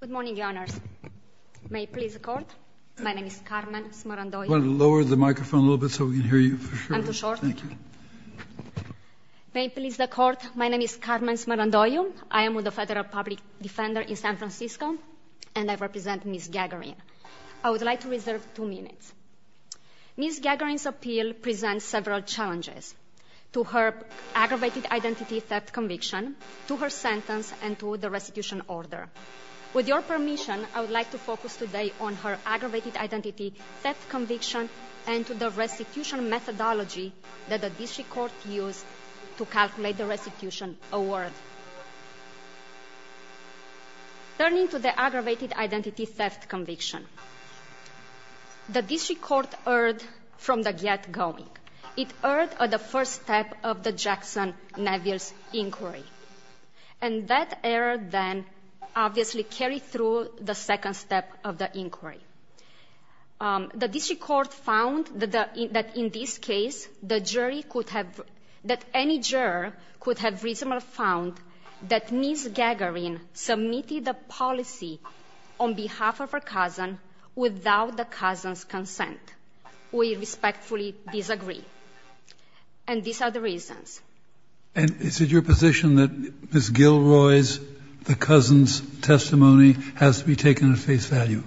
Good morning, your honors. May it please the court, my name is Carmen Smarandoyo. Lower the microphone a little bit so we can hear you. I'm too short. Thank you. May it please the court, my name is Carmen Smarandoyo. I am with the Federal Public Defender in San Francisco and I represent Ms. Gagarin. I would like to reserve two minutes. Ms. Gagarin's appeal presents several challenges to her aggravated identity theft conviction, to her sentence, and to the restitution order. With your permission, I would like to focus today on her aggravated identity theft conviction and to the restitution methodology that the district court used to calculate the restitution award. Turning to the aggravated identity theft conviction, the district court heard from the get-going. It heard the first step of the Jackson-Neville's inquiry. And that error then obviously carried through the second step of the inquiry. The district court found that in this case, the jury could have — that any juror could have reasonably found that Ms. Gagarin submitted a policy on behalf of her cousin without the cousin's consent. We respectfully disagree. And these are the reasons. And is it your position that Ms. Gilroy's, the cousin's testimony has to be taken at face value?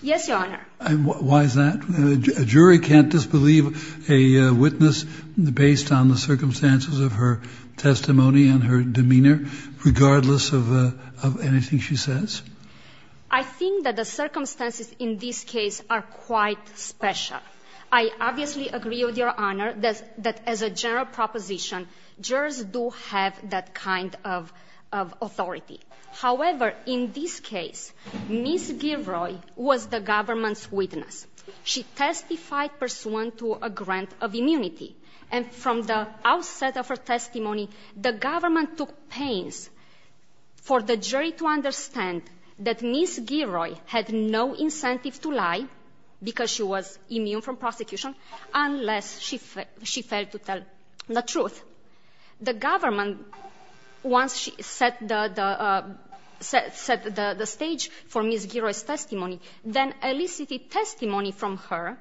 Yes, Your Honor. And why is that? A jury can't disbelieve a witness based on the circumstances of her testimony and her demeanor, regardless of anything she says? I think that the circumstances in this case are quite special. I obviously agree with Your Honor that as a general proposition, jurors do have that kind of authority. However, in this case, Ms. Gilroy was the government's witness. She testified pursuant to a grant of immunity. And from the outset of her testimony, the government took pains for the jury to understand that Ms. Gilroy had no incentive to lie because she was immune from prosecution unless she failed to tell the truth. The government, once she set the stage for Ms. Gilroy's testimony, then elicited testimony from her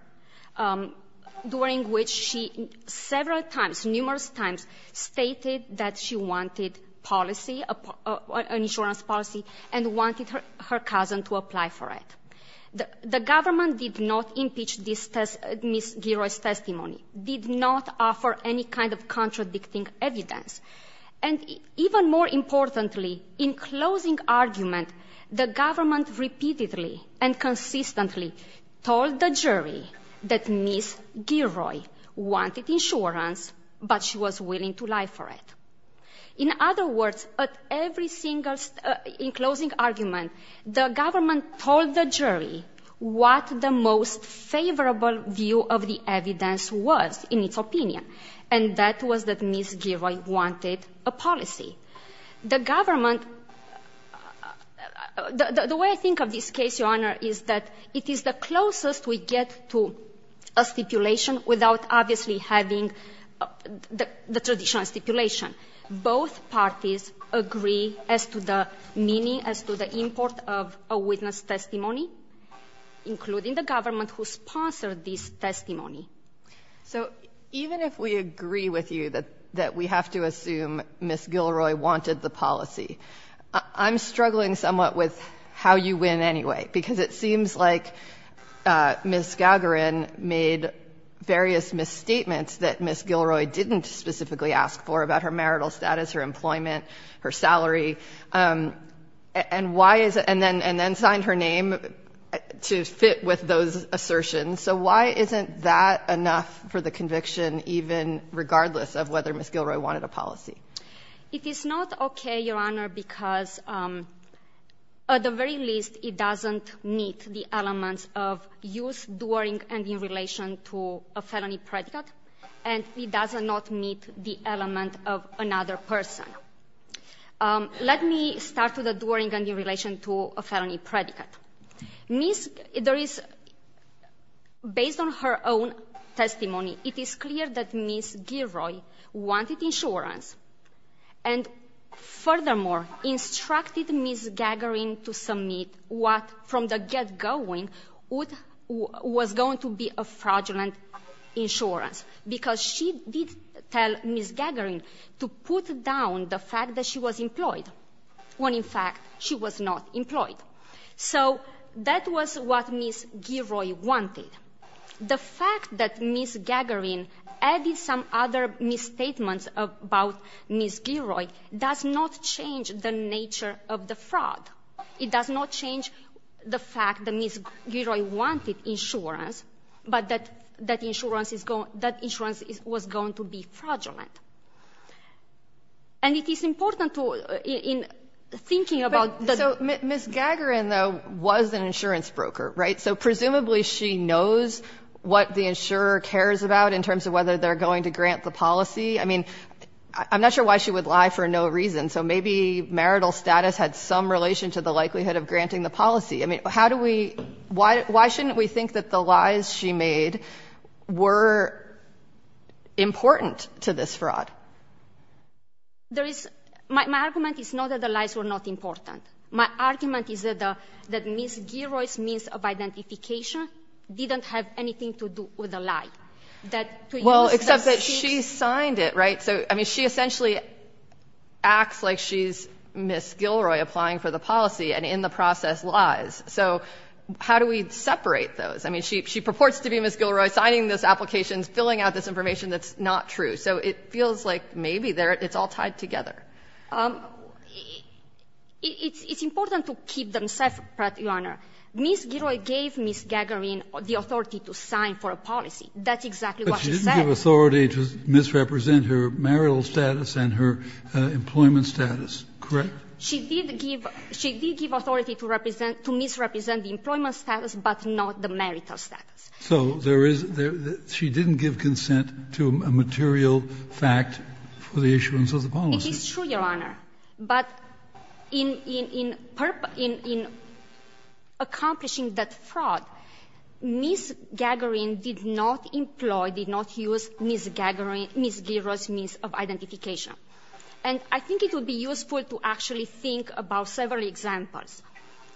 during which she several times, numerous times, stated that she wanted policy, an insurance policy, and wanted her cousin to apply for it. The government did not impeach Ms. Gilroy's testimony, did not offer any kind of contradicting evidence. And even more importantly, in closing argument, the government repeatedly and consistently told the jury that Ms. Gilroy wanted insurance, but she was willing to lie for it. In other words, at every single step, in closing argument, the government told the jury what the most favorable view of the evidence was in its opinion, and that was that Ms. Gilroy wanted a policy. The government – the way I think of this case, Your Honor, is that it is the closest we get to a stipulation without obviously having the traditional stipulation. Both parties agree as to the meaning, as to the import of a witness testimony, including the government who sponsored this testimony. So even if we agree with you that we have to assume Ms. Gilroy wanted the policy, I'm struggling somewhat with how you win anyway, because it seems like Ms. Gagarin made various misstatements that Ms. Gilroy didn't specifically ask for about her marital status, her employment, her salary, and why is it – and then signed her name to fit with those assertions. So why isn't that enough for the conviction, even regardless of whether Ms. Gilroy wanted a policy? It is not okay, Your Honor, because at the very least, it doesn't meet the elements of use during and in relation to a felony predicate, and it does not meet the element of another person. Let me start with the during and in relation to a felony predicate. Ms. – there is – based on her own testimony, it is clear that Ms. Gilroy wanted insurance, and furthermore, instructed Ms. Gagarin to submit what from the get-going was going to be a fraudulent insurance, because she did tell Ms. Gagarin to put down the fact that she was employed, when in fact she was not employed. So that was what Ms. Gilroy wanted. The fact that Ms. Gagarin added some other misstatements about Ms. Gilroy does not change the nature of the fraud. It does not change the fact that Ms. Gilroy wanted insurance, but that insurance is going – that insurance was going to be fraudulent. And it is important to – in thinking about the – So Ms. Gagarin, though, was an insurance broker, right? So presumably she knows what the insurer cares about in terms of whether they're going to grant the policy. I mean, I'm not sure why she would lie for no reason. So maybe marital status had some relation to the likelihood of granting the policy. I mean, how do we – why shouldn't we think that the lies she made were important to this fraud? There is – my argument is not that the lies were not important. My argument is that Ms. Gilroy's means of identification didn't have anything to do with the lie. That to use the – Well, except that she signed it, right? So, I mean, she essentially acts like she's Ms. Gilroy applying for the policy and in the process lies. So how do we separate those? I mean, she purports to be Ms. Gilroy signing those applications, filling out this information that's not true. So it feels like maybe there – it's all tied together. It's important to keep them separate, Your Honor. Ms. Gilroy gave Ms. Gagarin the authority to sign for a policy. That's exactly what she said. But she didn't give authority to misrepresent her marital status and her employment status, correct? She did give – she did give authority to represent – to misrepresent the employment status, but not the marital status. So there is – she didn't give consent to a material fact for the issuance of the policy. It is true, Your Honor. But in – in accomplishing that fraud, Ms. Gagarin did not employ, did not use Ms. Gagarin – Ms. Gilroy's means of identification. And I think it would be useful to actually think about several examples.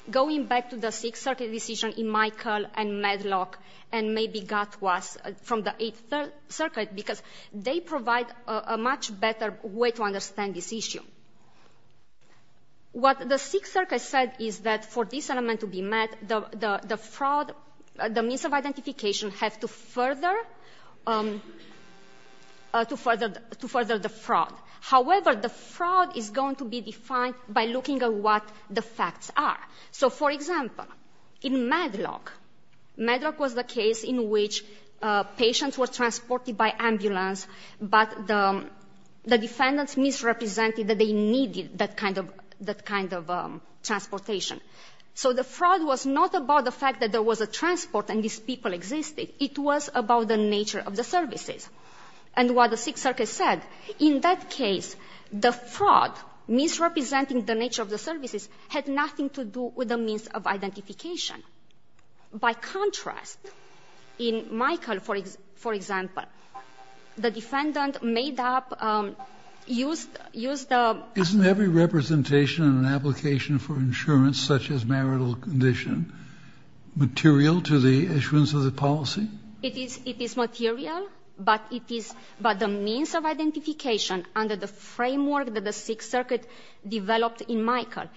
Going back to the Sixth Circuit decision in Michael and Medlock and maybe Gatwas from the Eighth Circuit, because they provide a much better way to understand this issue. What the Sixth Circuit said is that for this element to be met, the fraud – the means of identification have to further – to further the fraud. However, the fraud is going to be defined by looking at what the facts are. So for example, in Medlock, Medlock was the case in which patients were transported by ambulance, but the defendants misrepresented that they needed that kind of – that kind of transportation. So the fraud was not about the fact that there was a transport and these people existed. It was about the nature of the services. And what the Sixth Circuit said, in that case, the fraud, misrepresenting the nature of the services had nothing to do with the means of identification. By contrast, in Michael, for example, the defendant made up – used the – Kennedy Isn't every representation in an application for insurance, such as marital condition, material to the issuance of the policy? Gilroy It is – it is material, but it is – but the means of identification under the framework that the Sixth Circuit developed in Michael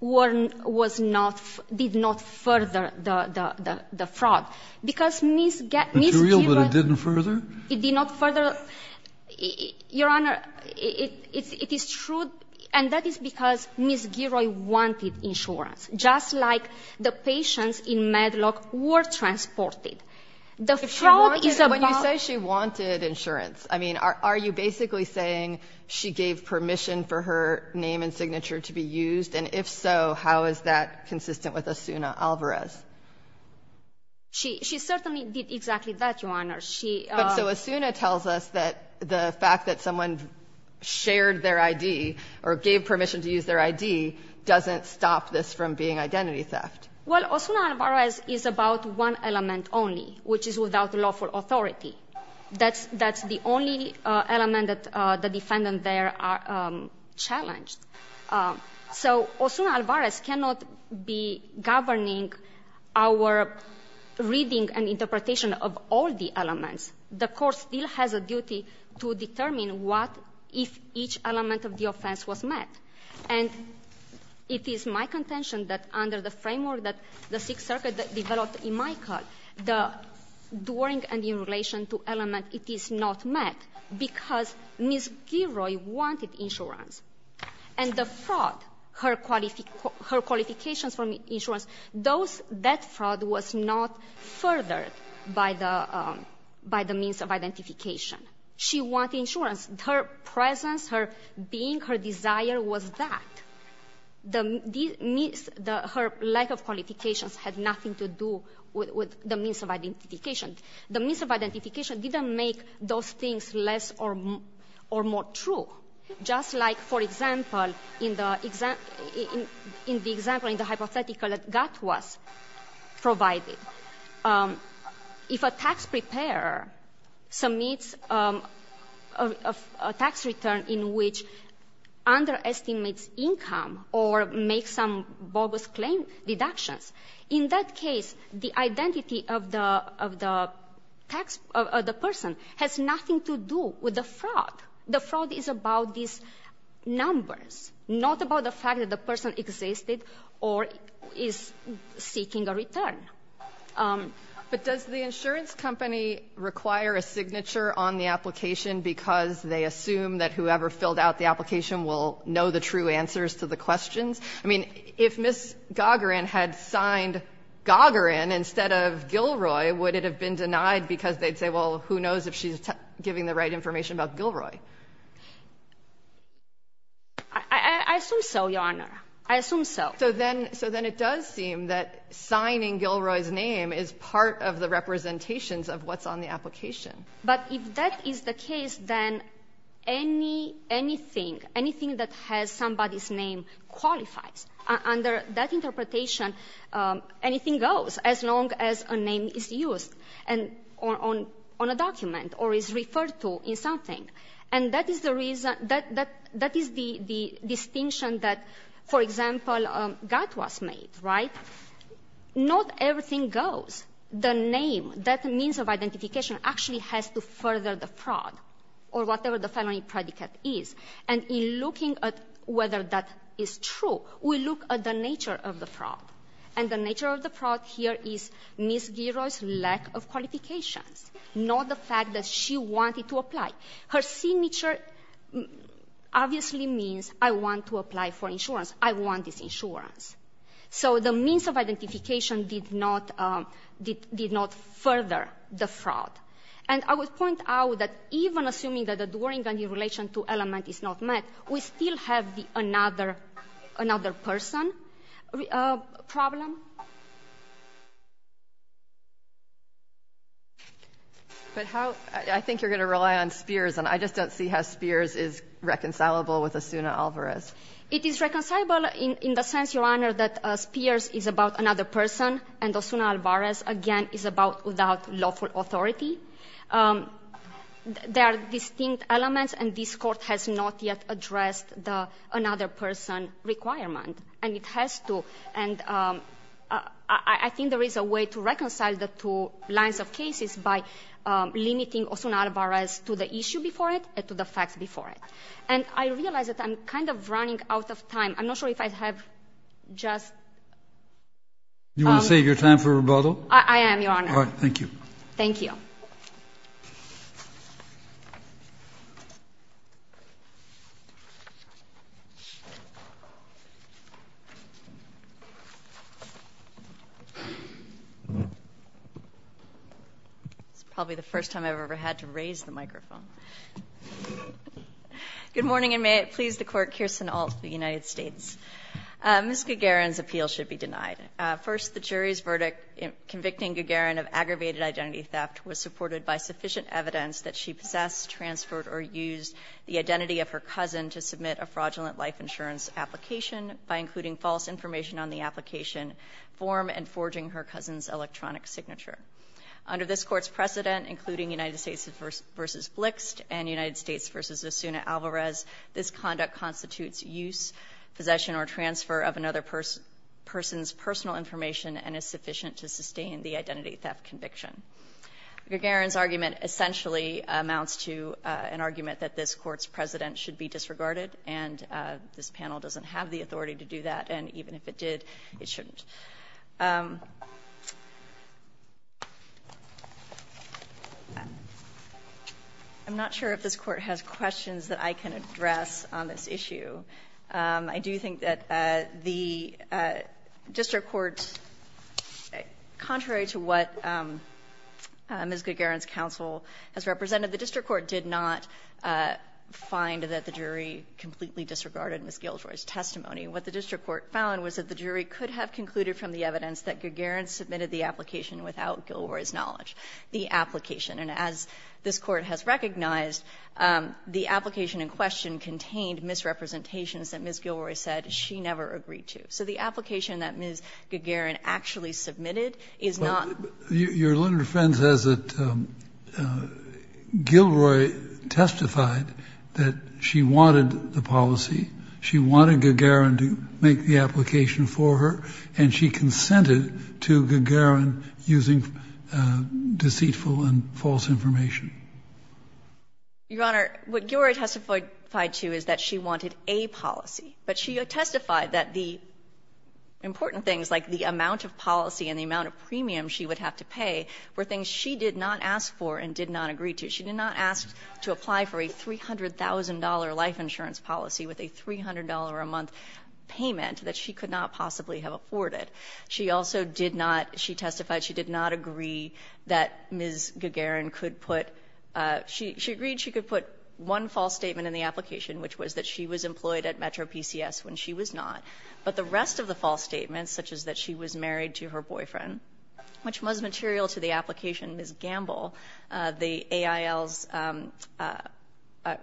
was not – did not further the fraud. Because Ms. – Ms. Gilroy – Kennedy It's real, but it didn't further? Gilroy It did not further – Your Honor, it is true, and that is because Ms. Gilroy wanted insurance, just like the patients in Medlock were transported. The fraud is about – And if so, how is that consistent with Osuna Alvarez? Gilroy She – she certainly did exactly that, Your Honor. She – Kennedy But so Osuna tells us that the fact that someone shared their ID or gave permission to use their ID doesn't stop this from being identity theft. Gilroy Well, Osuna Alvarez is about one element only, which is without lawful authority. That's – that's the only element that the defendants there are challenged. So Osuna Alvarez cannot be governing our reading and interpretation of all the elements. The court still has a duty to determine what if each element of the offense was met. And it is my contention that under the framework that the Sixth Circuit developed in my court, the during and in relation to element, it is not met because Ms. Gilroy wanted insurance. And the fraud, her qualifications for insurance, those – that fraud was not furthered by the – by the means of identification. She wanted insurance. Her presence, her being, her desire was that. Her lack of qualifications had nothing to do with the means of identification. The means of identification didn't make those things less or more true. Just like, for example, in the example, in the hypothetical that GAT was provided, if a tax preparer submits a tax return in which underestimates income or makes some bogus claim, deductions, in that case, the identity of the – of the tax – of the person has nothing to do with the fraud. The fraud is about these numbers, not about the fact that the person existed or is seeking a return. But does the insurance company require a signature on the application because they assume that whoever filled out the application will know the true answers to the questions? I mean, if Ms. Gagarin had signed Gagarin instead of Gilroy, would it have been denied because they'd say, well, who knows if she's giving the right information about Gilroy? I assume so, Your Honor. I assume so. So then – so then it does seem that signing Gilroy's name is part of the representations of what's on the application. But if that is the case, then anything – anything that has somebody's name qualifies. Under that interpretation, anything goes as long as a name is used and – on a document or is referred to in something. And that is the reason – that is the distinction that, for example, Gatwas made, right? Not everything goes. The name, that means of identification actually has to further the fraud or whatever the felony predicate is. And in looking at whether that is true, we look at the nature of the fraud. And the nature of the fraud here is Ms. Gilroy's lack of qualifications, not the fact that she wanted to apply. Her signature obviously means, I want to apply for insurance. I want this insurance. So the means of identification did not – did not further the fraud. And I would point out that even assuming that the Dworyngan in relation to element is not met, we still have the another – another person problem. But how – I think you're going to rely on Spears, and I just don't see how Spears is reconcilable with Osuna Alvarez. It is reconcilable in – in the sense, Your Honor, that Spears is about another person, and Osuna Alvarez, again, is about without lawful authority. There are distinct elements, and this Court has not yet addressed the another-person requirement. And it has to – and I – I think there is a way to reconcile the two lines of cases by limiting Osuna Alvarez to the issue before it and to the facts before it. And I realize that I'm kind of running out of time. I'm not sure if I have just – Do you want to save your time for rebuttal? I am, Your Honor. All right, thank you. Thank you. It's probably the first time I've ever had to raise the microphone. Good morning, and may it please the Court, Kirsten Alt of the United States. Ms. Gagarin's appeal should be denied. First, the jury's verdict in convicting Gagarin of aggravated identity theft was supported by sufficient evidence that she possessed, transferred, or used the identity of her cousin to submit a fraudulent life insurance application by including false information on the application form and forging her cousin's electronic signature. Under this Court's precedent, including United States v. Blixt and United States v. Osuna Alvarez, this conduct constitutes use, possession, or transfer of another person's personal information and is sufficient to sustain the identity theft conviction. Gagarin's argument essentially amounts to an argument that this Court's precedent should be disregarded, and this panel doesn't have the authority to do that, and even if it did, it shouldn't. I'm not sure if this Court has questions that I can address on this issue. I do think that the district court, contrary to what Ms. Gagarin's counsel has represented, the district court did not find that the jury completely disregarded Ms. Gilroy's testimony. What the district court found was that the jury could have concluded from the evidence that Gagarin submitted the application without Gilroy's knowledge. The application, and as this Court has recognized, the application in question contained misrepresentations that Ms. Gilroy said she never agreed to. So the application that Ms. Gagarin actually submitted is not the case. Kennedy, your literary friend says that Gilroy testified that she wanted the policy. She wanted Gagarin to make the application for her, and she consented to Gagarin using deceitful and false information. Your Honor, what Gilroy testified to is that she wanted a policy, but she testified that the important things like the amount of policy and the amount of premium she would have to pay were things she did not ask for and did not agree to. She did not ask to apply for a $300,000 life insurance policy with a $300 a month payment that she could not possibly have afforded. She also did not, she testified she did not agree that Ms. Gagarin could put, she agreed she could put one false statement in the application, which was that she was employed at Metro PCS when she was not. But the rest of the false statements, such as that she was married to her boyfriend, which was material to the application, Ms. Gamble, the AIL's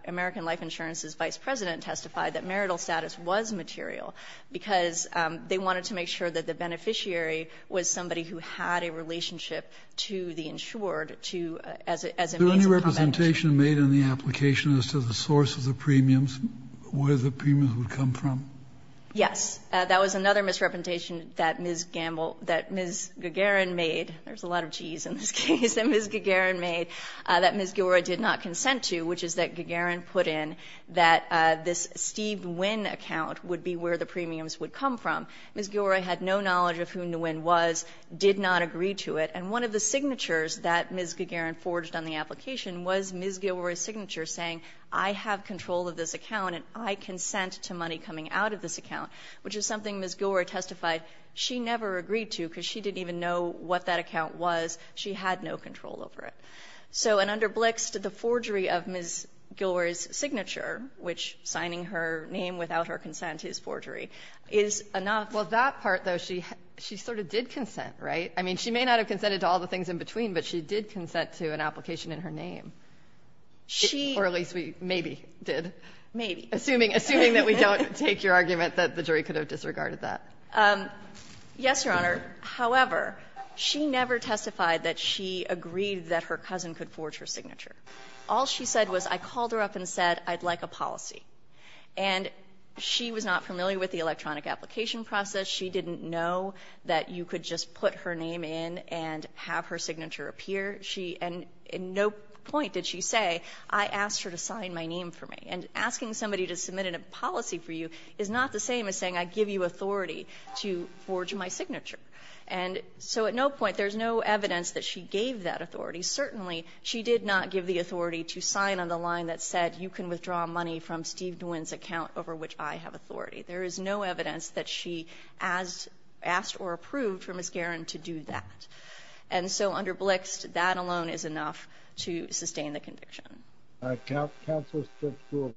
American Life Insurance's Vice President testified that marital status was material because they wanted to make sure that the beneficiary was somebody who had a relationship to the insured to, as a means of prevention. Are there any representations made in the application as to the source of the premiums, where the premiums would come from? Yes. That was another misrepresentation that Ms. Gamble, that Ms. Gagarin made, there's a lot of G's in this case, that Ms. Gagarin made, that Ms. Gilroy did not consent to, which is that Gagarin put in that this Steve Wynn account would be where the premiums would come from. Ms. Gilroy had no knowledge of who Nguyen was, did not agree to it. And one of the signatures that Ms. Gagarin forged on the application was Ms. Gilroy's signature saying, I have control of this account and I consent to money coming out of this account, which is something Ms. Gilroy testified she never agreed to because she didn't even know what that account was. She had no control over it. So in underblix, the forgery of Ms. Gilroy's signature, which signing her name without her consent is forgery, is enough. Well, that part, though, she sort of did consent, right? I mean, she may not have consented to all the things in between, but she did consent to an application in her name. She or at least we maybe did. Maybe. Assuming that we don't take your argument that the jury could have disregarded that. Yes, Your Honor. However, she never testified that she agreed that her cousin could forge her signature. All she said was, I called her up and said, I'd like a policy. And she was not familiar with the electronic application process. She didn't know that you could just put her name in and have her signature appear. She and at no point did she say, I asked her to sign my name for me. And asking somebody to submit a policy for you is not the same as saying I give you authority to forge my signature. And so at no point, there's no evidence that she gave that authority. Certainly, she did not give the authority to sign on the line that said you can withdraw money from Steve Nguyen's account over which I have authority. There is no evidence that she asked or approved for Ms. Guerin to do that. And so under Blixt, that alone is enough to sustain the conviction. Counsel, I'd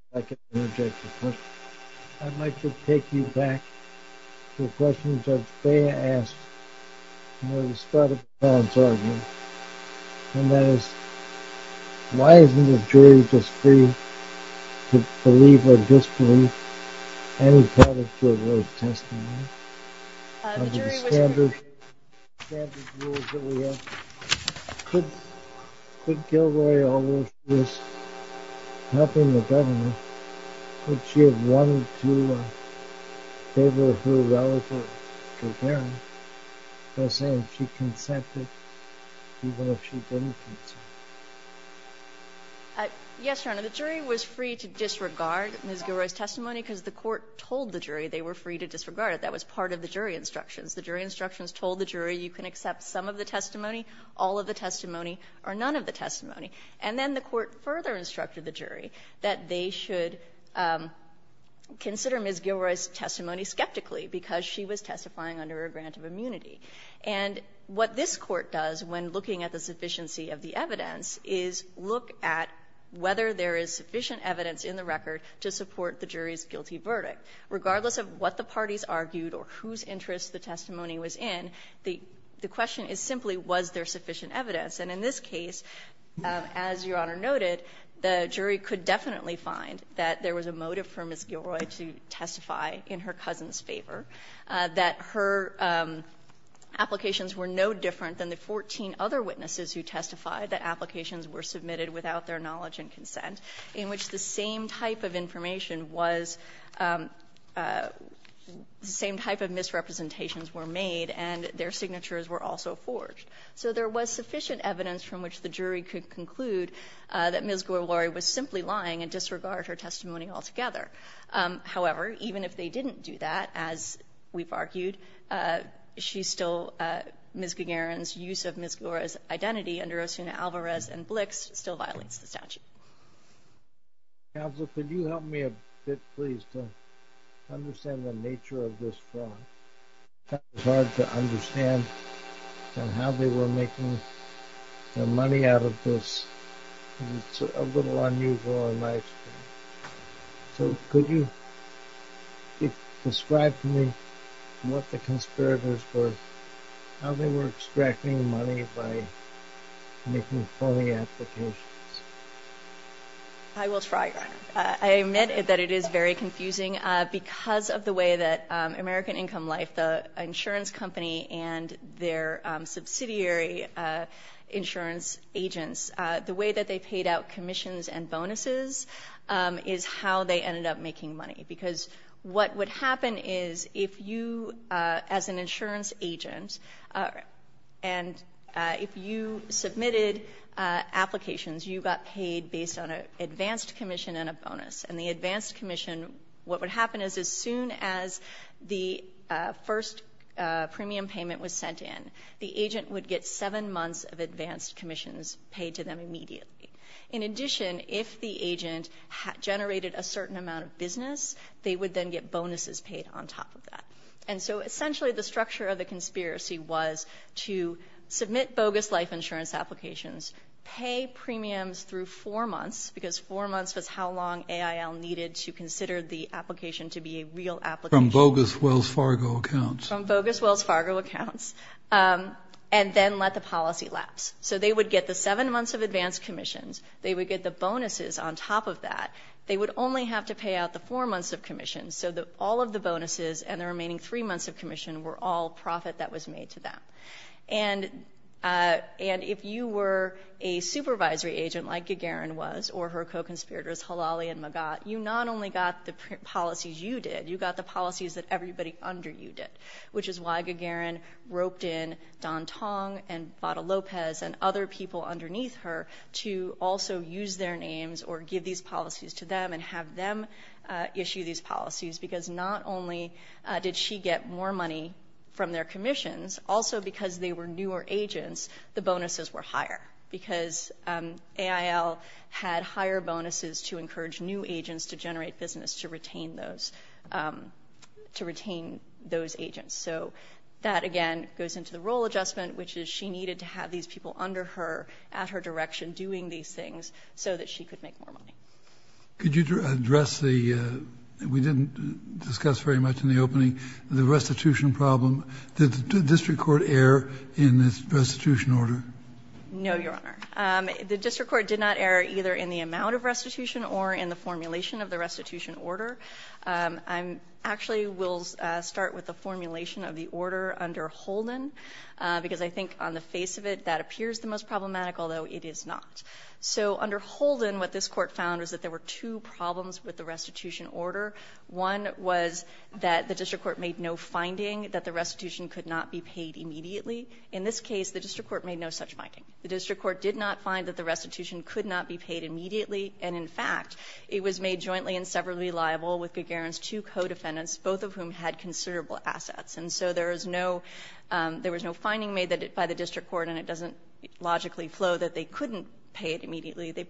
like to take you back to a question Judge Bea asked at the start of the parents' argument, and that is why isn't the jury just free to believe or disbelieve any part of Gilroy's testimony? Could Gilroy, although she was helping the government, could she have wanted to favor her relative, Ms. Guerin, by saying she consented, even if she didn't consent? Yes, Your Honor. The jury was free to disregard Ms. Guerin's testimony because the Court told the jury they were free to disregard it. That was part of the jury instructions. The jury instructions told the jury you can accept some of the testimony, all of the testimony, or none of the testimony. And then the Court further instructed the jury that they should consider Ms. Guerin's testimony skeptically because she was testifying under a grant of immunity. And what this Court does when looking at the sufficiency of the evidence is look at whether there is sufficient evidence in the record to support the jury's guilty verdict. Regardless of what the parties argued or whose interest the testimony was in, the question is simply was there sufficient evidence. And in this case, as Your Honor noted, the jury could definitely find that there was a motive for Ms. Guerin to testify in her cousin's favor, that her claim that applications were no different than the 14 other witnesses who testified that applications were submitted without their knowledge and consent, in which the same type of information was the same type of misrepresentations were made and their signatures were also forged. So there was sufficient evidence from which the jury could conclude that Ms. Guerin was simply lying and disregard her testimony altogether. However, even if they didn't do that, as we've argued, Ms. Guerin's use of Ms. Guerin's identity under Osuna Alvarez and Blix still violates the statute. Counsel, could you help me a bit, please, to understand the nature of this fraud? It's hard to understand how they were making their money out of this. It's a little unusual in my experience. So could you describe to me what the conspirators were, how they were extracting money by making phony applications? I will try, Your Honor. I admit that it is very confusing because of the way that American Income Life, the insurance company and their subsidiary insurance agents, the way that they paid out commissions and bonuses is how they ended up making money. Because what would happen is if you, as an insurance agent, and if you submitted applications, you got paid based on an advanced commission and a bonus. And the advanced commission, what would happen is as soon as the first premium payment was sent in, the agent would get seven months of advanced commissions paid to them immediately. In addition, if the agent generated a certain amount of business, they would then get bonuses paid on top of that. And so essentially the structure of the conspiracy was to submit bogus life insurance applications, pay premiums through four months, because four months was how long AIL needed to consider the application to be a real application. From bogus Wells Fargo accounts. From bogus Wells Fargo accounts. And then let the policy lapse. So they would get the seven months of advanced commissions. They would get the bonuses on top of that. They would only have to pay out the four months of commissions. So all of the bonuses and the remaining three months of commission were all profit that was made to them. And if you were a supervisory agent like Gagarin was, or her co-conspirators Halali and Magat, you not only got the policies you did, you got the policies that everybody under you did, which is why Gagarin roped in Don Tong and Bata Lopez and other people underneath her to also use their names or give these policies to them and have them issue these policies. Because not only did she get more money from their commissions, also because they were newer agents, the bonuses were higher. Because AIL had higher bonuses to encourage new agents to generate business to retain those, to retain those agents. So that, again, goes into the role adjustment, which is she needed to have these people under her, at her direction, doing these things so that she could make more money. Could you address the, we didn't discuss very much in the opening, the restitution problem. Did the district court err in the restitution order? No, Your Honor. The district court did not err either in the amount of restitution or in the formulation of the restitution order. I'm actually, we'll start with the formulation of the order under Holden, because I think on the face of it, that appears the most problematic, although it is not. So under Holden, what this Court found is that there were two problems with the restitution order. One was that the district court made no finding that the restitution could not be paid immediately. In this case, the district court made no such finding. The district court did not find that the restitution could not be paid immediately. And in fact, it was made jointly and severally liable with Gagarin's two co-defendants, both of whom had considerable assets. And so there is no, there was no finding made by the district court, and it doesn't logically flow that they couldn't pay it immediately. They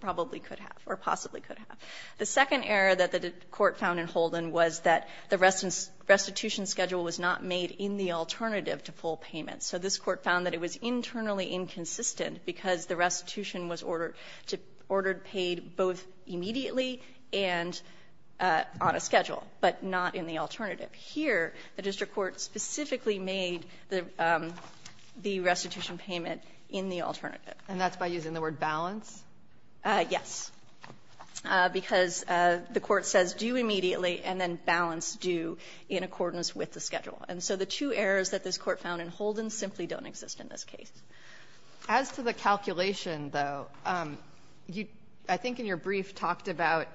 probably could have or possibly could have. The second error that the court found in Holden was that the restitution schedule was not made in the alternative to full payment. So this Court found that it was internally inconsistent because the restitution was ordered to, ordered paid both immediately and on a schedule, but not in the alternative. Here, the district court specifically made the restitution payment in the alternative. And that's by using the word balance? Yes. Because the court says due immediately and then balance due in accordance with the schedule. And so the two errors that this Court found in Holden simply don't exist in this case. As to the calculation, though, I think in your brief talked about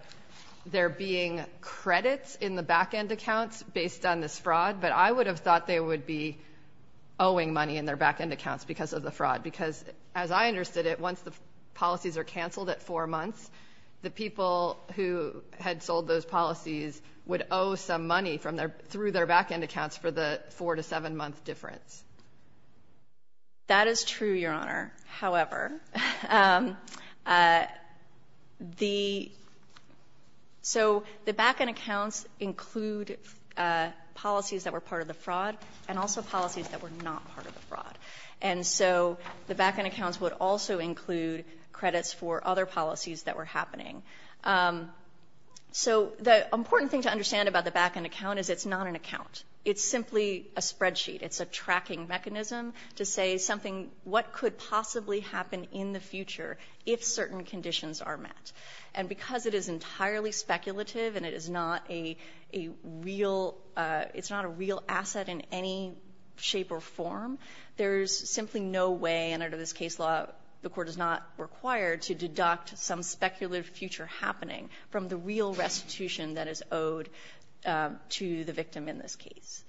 there being credits in the back-end accounts based on this fraud, but I would have thought they would be owing money in their back-end accounts because of the fraud. Because as I understood it, once the policies are canceled at four months, the people who had sold those policies would owe some money from their, through their back-end accounts for the four to seven month difference. That is true, Your Honor. However, the, so the back-end accounts include policies that were part of the fraud and also policies that were not part of the fraud. And so the back-end accounts would also include credits for other policies that were happening. So the important thing to understand about the back-end account is it's not an account. It's simply a spreadsheet. It's a tracking mechanism to say something, what could possibly happen in the future if certain conditions are met. And because it is entirely speculative and it is not a real, it's not a real asset in any shape or form, there's simply no way, and under this case law the Court is not required to deduct some speculative future happening from the real restitution that is owed to the victim in this case.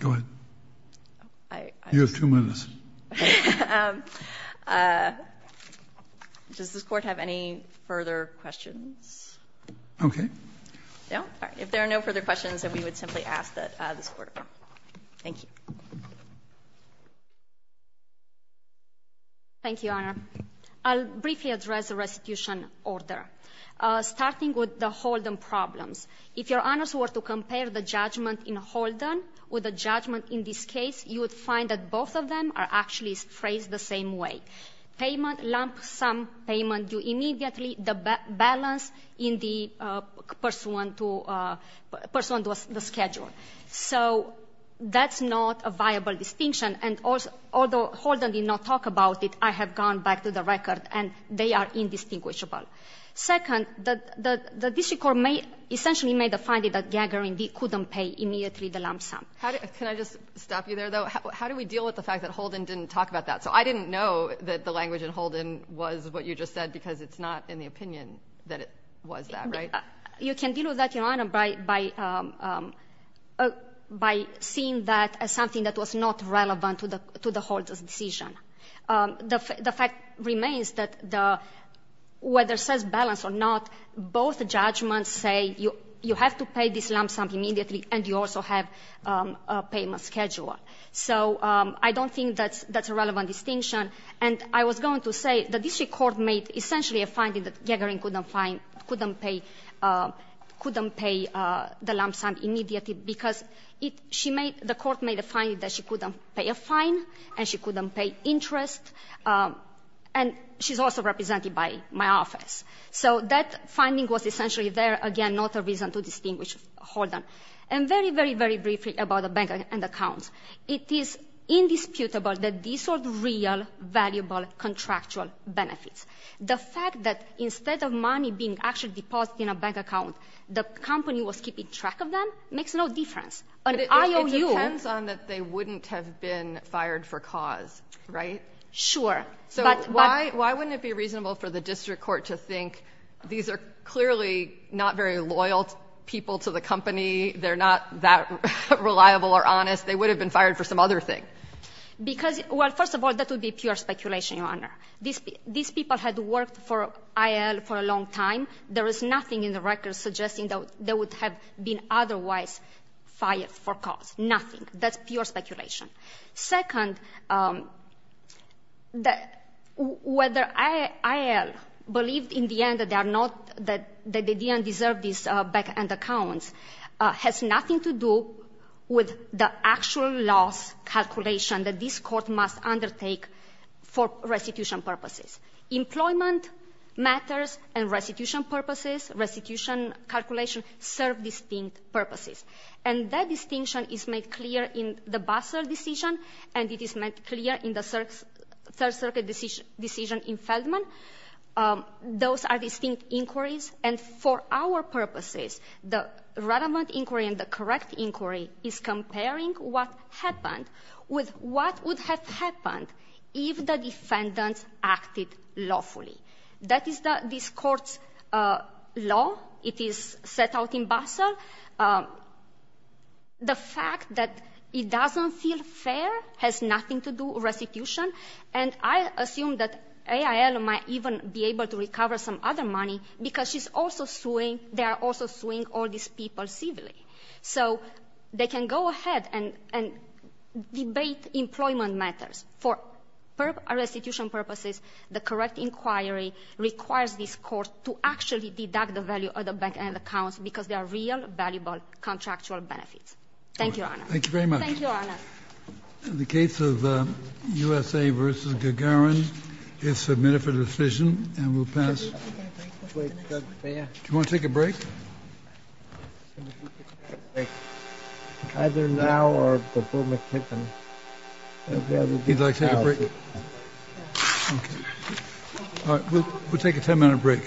Go ahead. You have two minutes. Does this Court have any further questions? Okay. No? All right. If there are no further questions, then we would simply ask that this Court. Thank you. Thank you, Your Honor. I'll briefly address the restitution order. Starting with the Holden problems. If Your Honors were to compare the judgment in Holden with the judgment in this case, you would find that both of them are actually phrased the same way. Payment, lump sum payment, you immediately, the balance in the pursuant to, pursuant to the schedule. So that's not a viable distinction, and although Holden did not talk about it, I have gone back to the record, and they are indistinguishable. Second, the district court essentially made the finding that Gagarin couldn't pay immediately the lump sum. Can I just stop you there, though? How do we deal with the fact that Holden didn't talk about that? So I didn't know that the language in Holden was what you just said because it's not in the opinion that it was that, right? You can deal with that, Your Honor, by seeing that as something that was not relevant to the Holden's decision. The fact remains that whether it says balance or not, both judgments say you have to pay this lump sum immediately, and you also have a payment schedule. So I don't think that's a relevant distinction, and I was going to say the district court made essentially a finding that Gagarin couldn't pay the lump sum immediately because the court made a finding that she couldn't pay a fine and she couldn't pay interest, and she's also represented by my office. So that finding was essentially there, again, not a reason to distinguish Holden. And very, very, very briefly about the bank and accounts, it is indisputable that these are real, valuable, contractual benefits. The fact that instead of money being actually deposited in a bank account, the company was keeping track of them makes no difference. An IOU — Sure. So why wouldn't it be reasonable for the district court to think these are clearly not very loyal people to the company, they're not that reliable or honest, they would have been fired for some other thing? Because, well, first of all, that would be pure speculation, Your Honor. These people had worked for IAL for a long time. There is nothing in the records suggesting that they would have been otherwise fired for cause. Nothing. That's pure speculation. Second, whether IAL believed in the end that they are not — that they didn't deserve these bank and accounts has nothing to do with the actual loss calculation that this court must undertake for restitution purposes. Employment matters and restitution purposes, restitution calculation, serve distinct purposes. And that distinction is made clear in the Bassel decision and it is made clear in the Third Circuit decision in Feldman. Those are distinct inquiries. And for our purposes, the relevant inquiry and the correct inquiry is comparing what happened with what would have happened if the defendants acted lawfully. That is this court's law. It is set out in Bassel. The fact that it doesn't feel fair has nothing to do restitution. And I assume that IAL might even be able to recover some other money because she's also suing — they are also suing all these people civilly. So they can go ahead and debate employment matters. For restitution purposes, the correct inquiry requires this court to actually deduct the value of the bank and accounts because they are real, valuable contractual benefits. Thank you, Your Honor. Thank you very much. Thank you, Your Honor. In the case of USA v. Gagarin, it's submitted for decision. And we'll pass. Do you want to take a break? Either now or before McKiffin. He'd like to take a break. All right. We'll take a ten-minute break.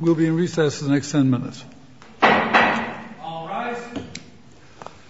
We'll be in recess the next ten minutes. All rise.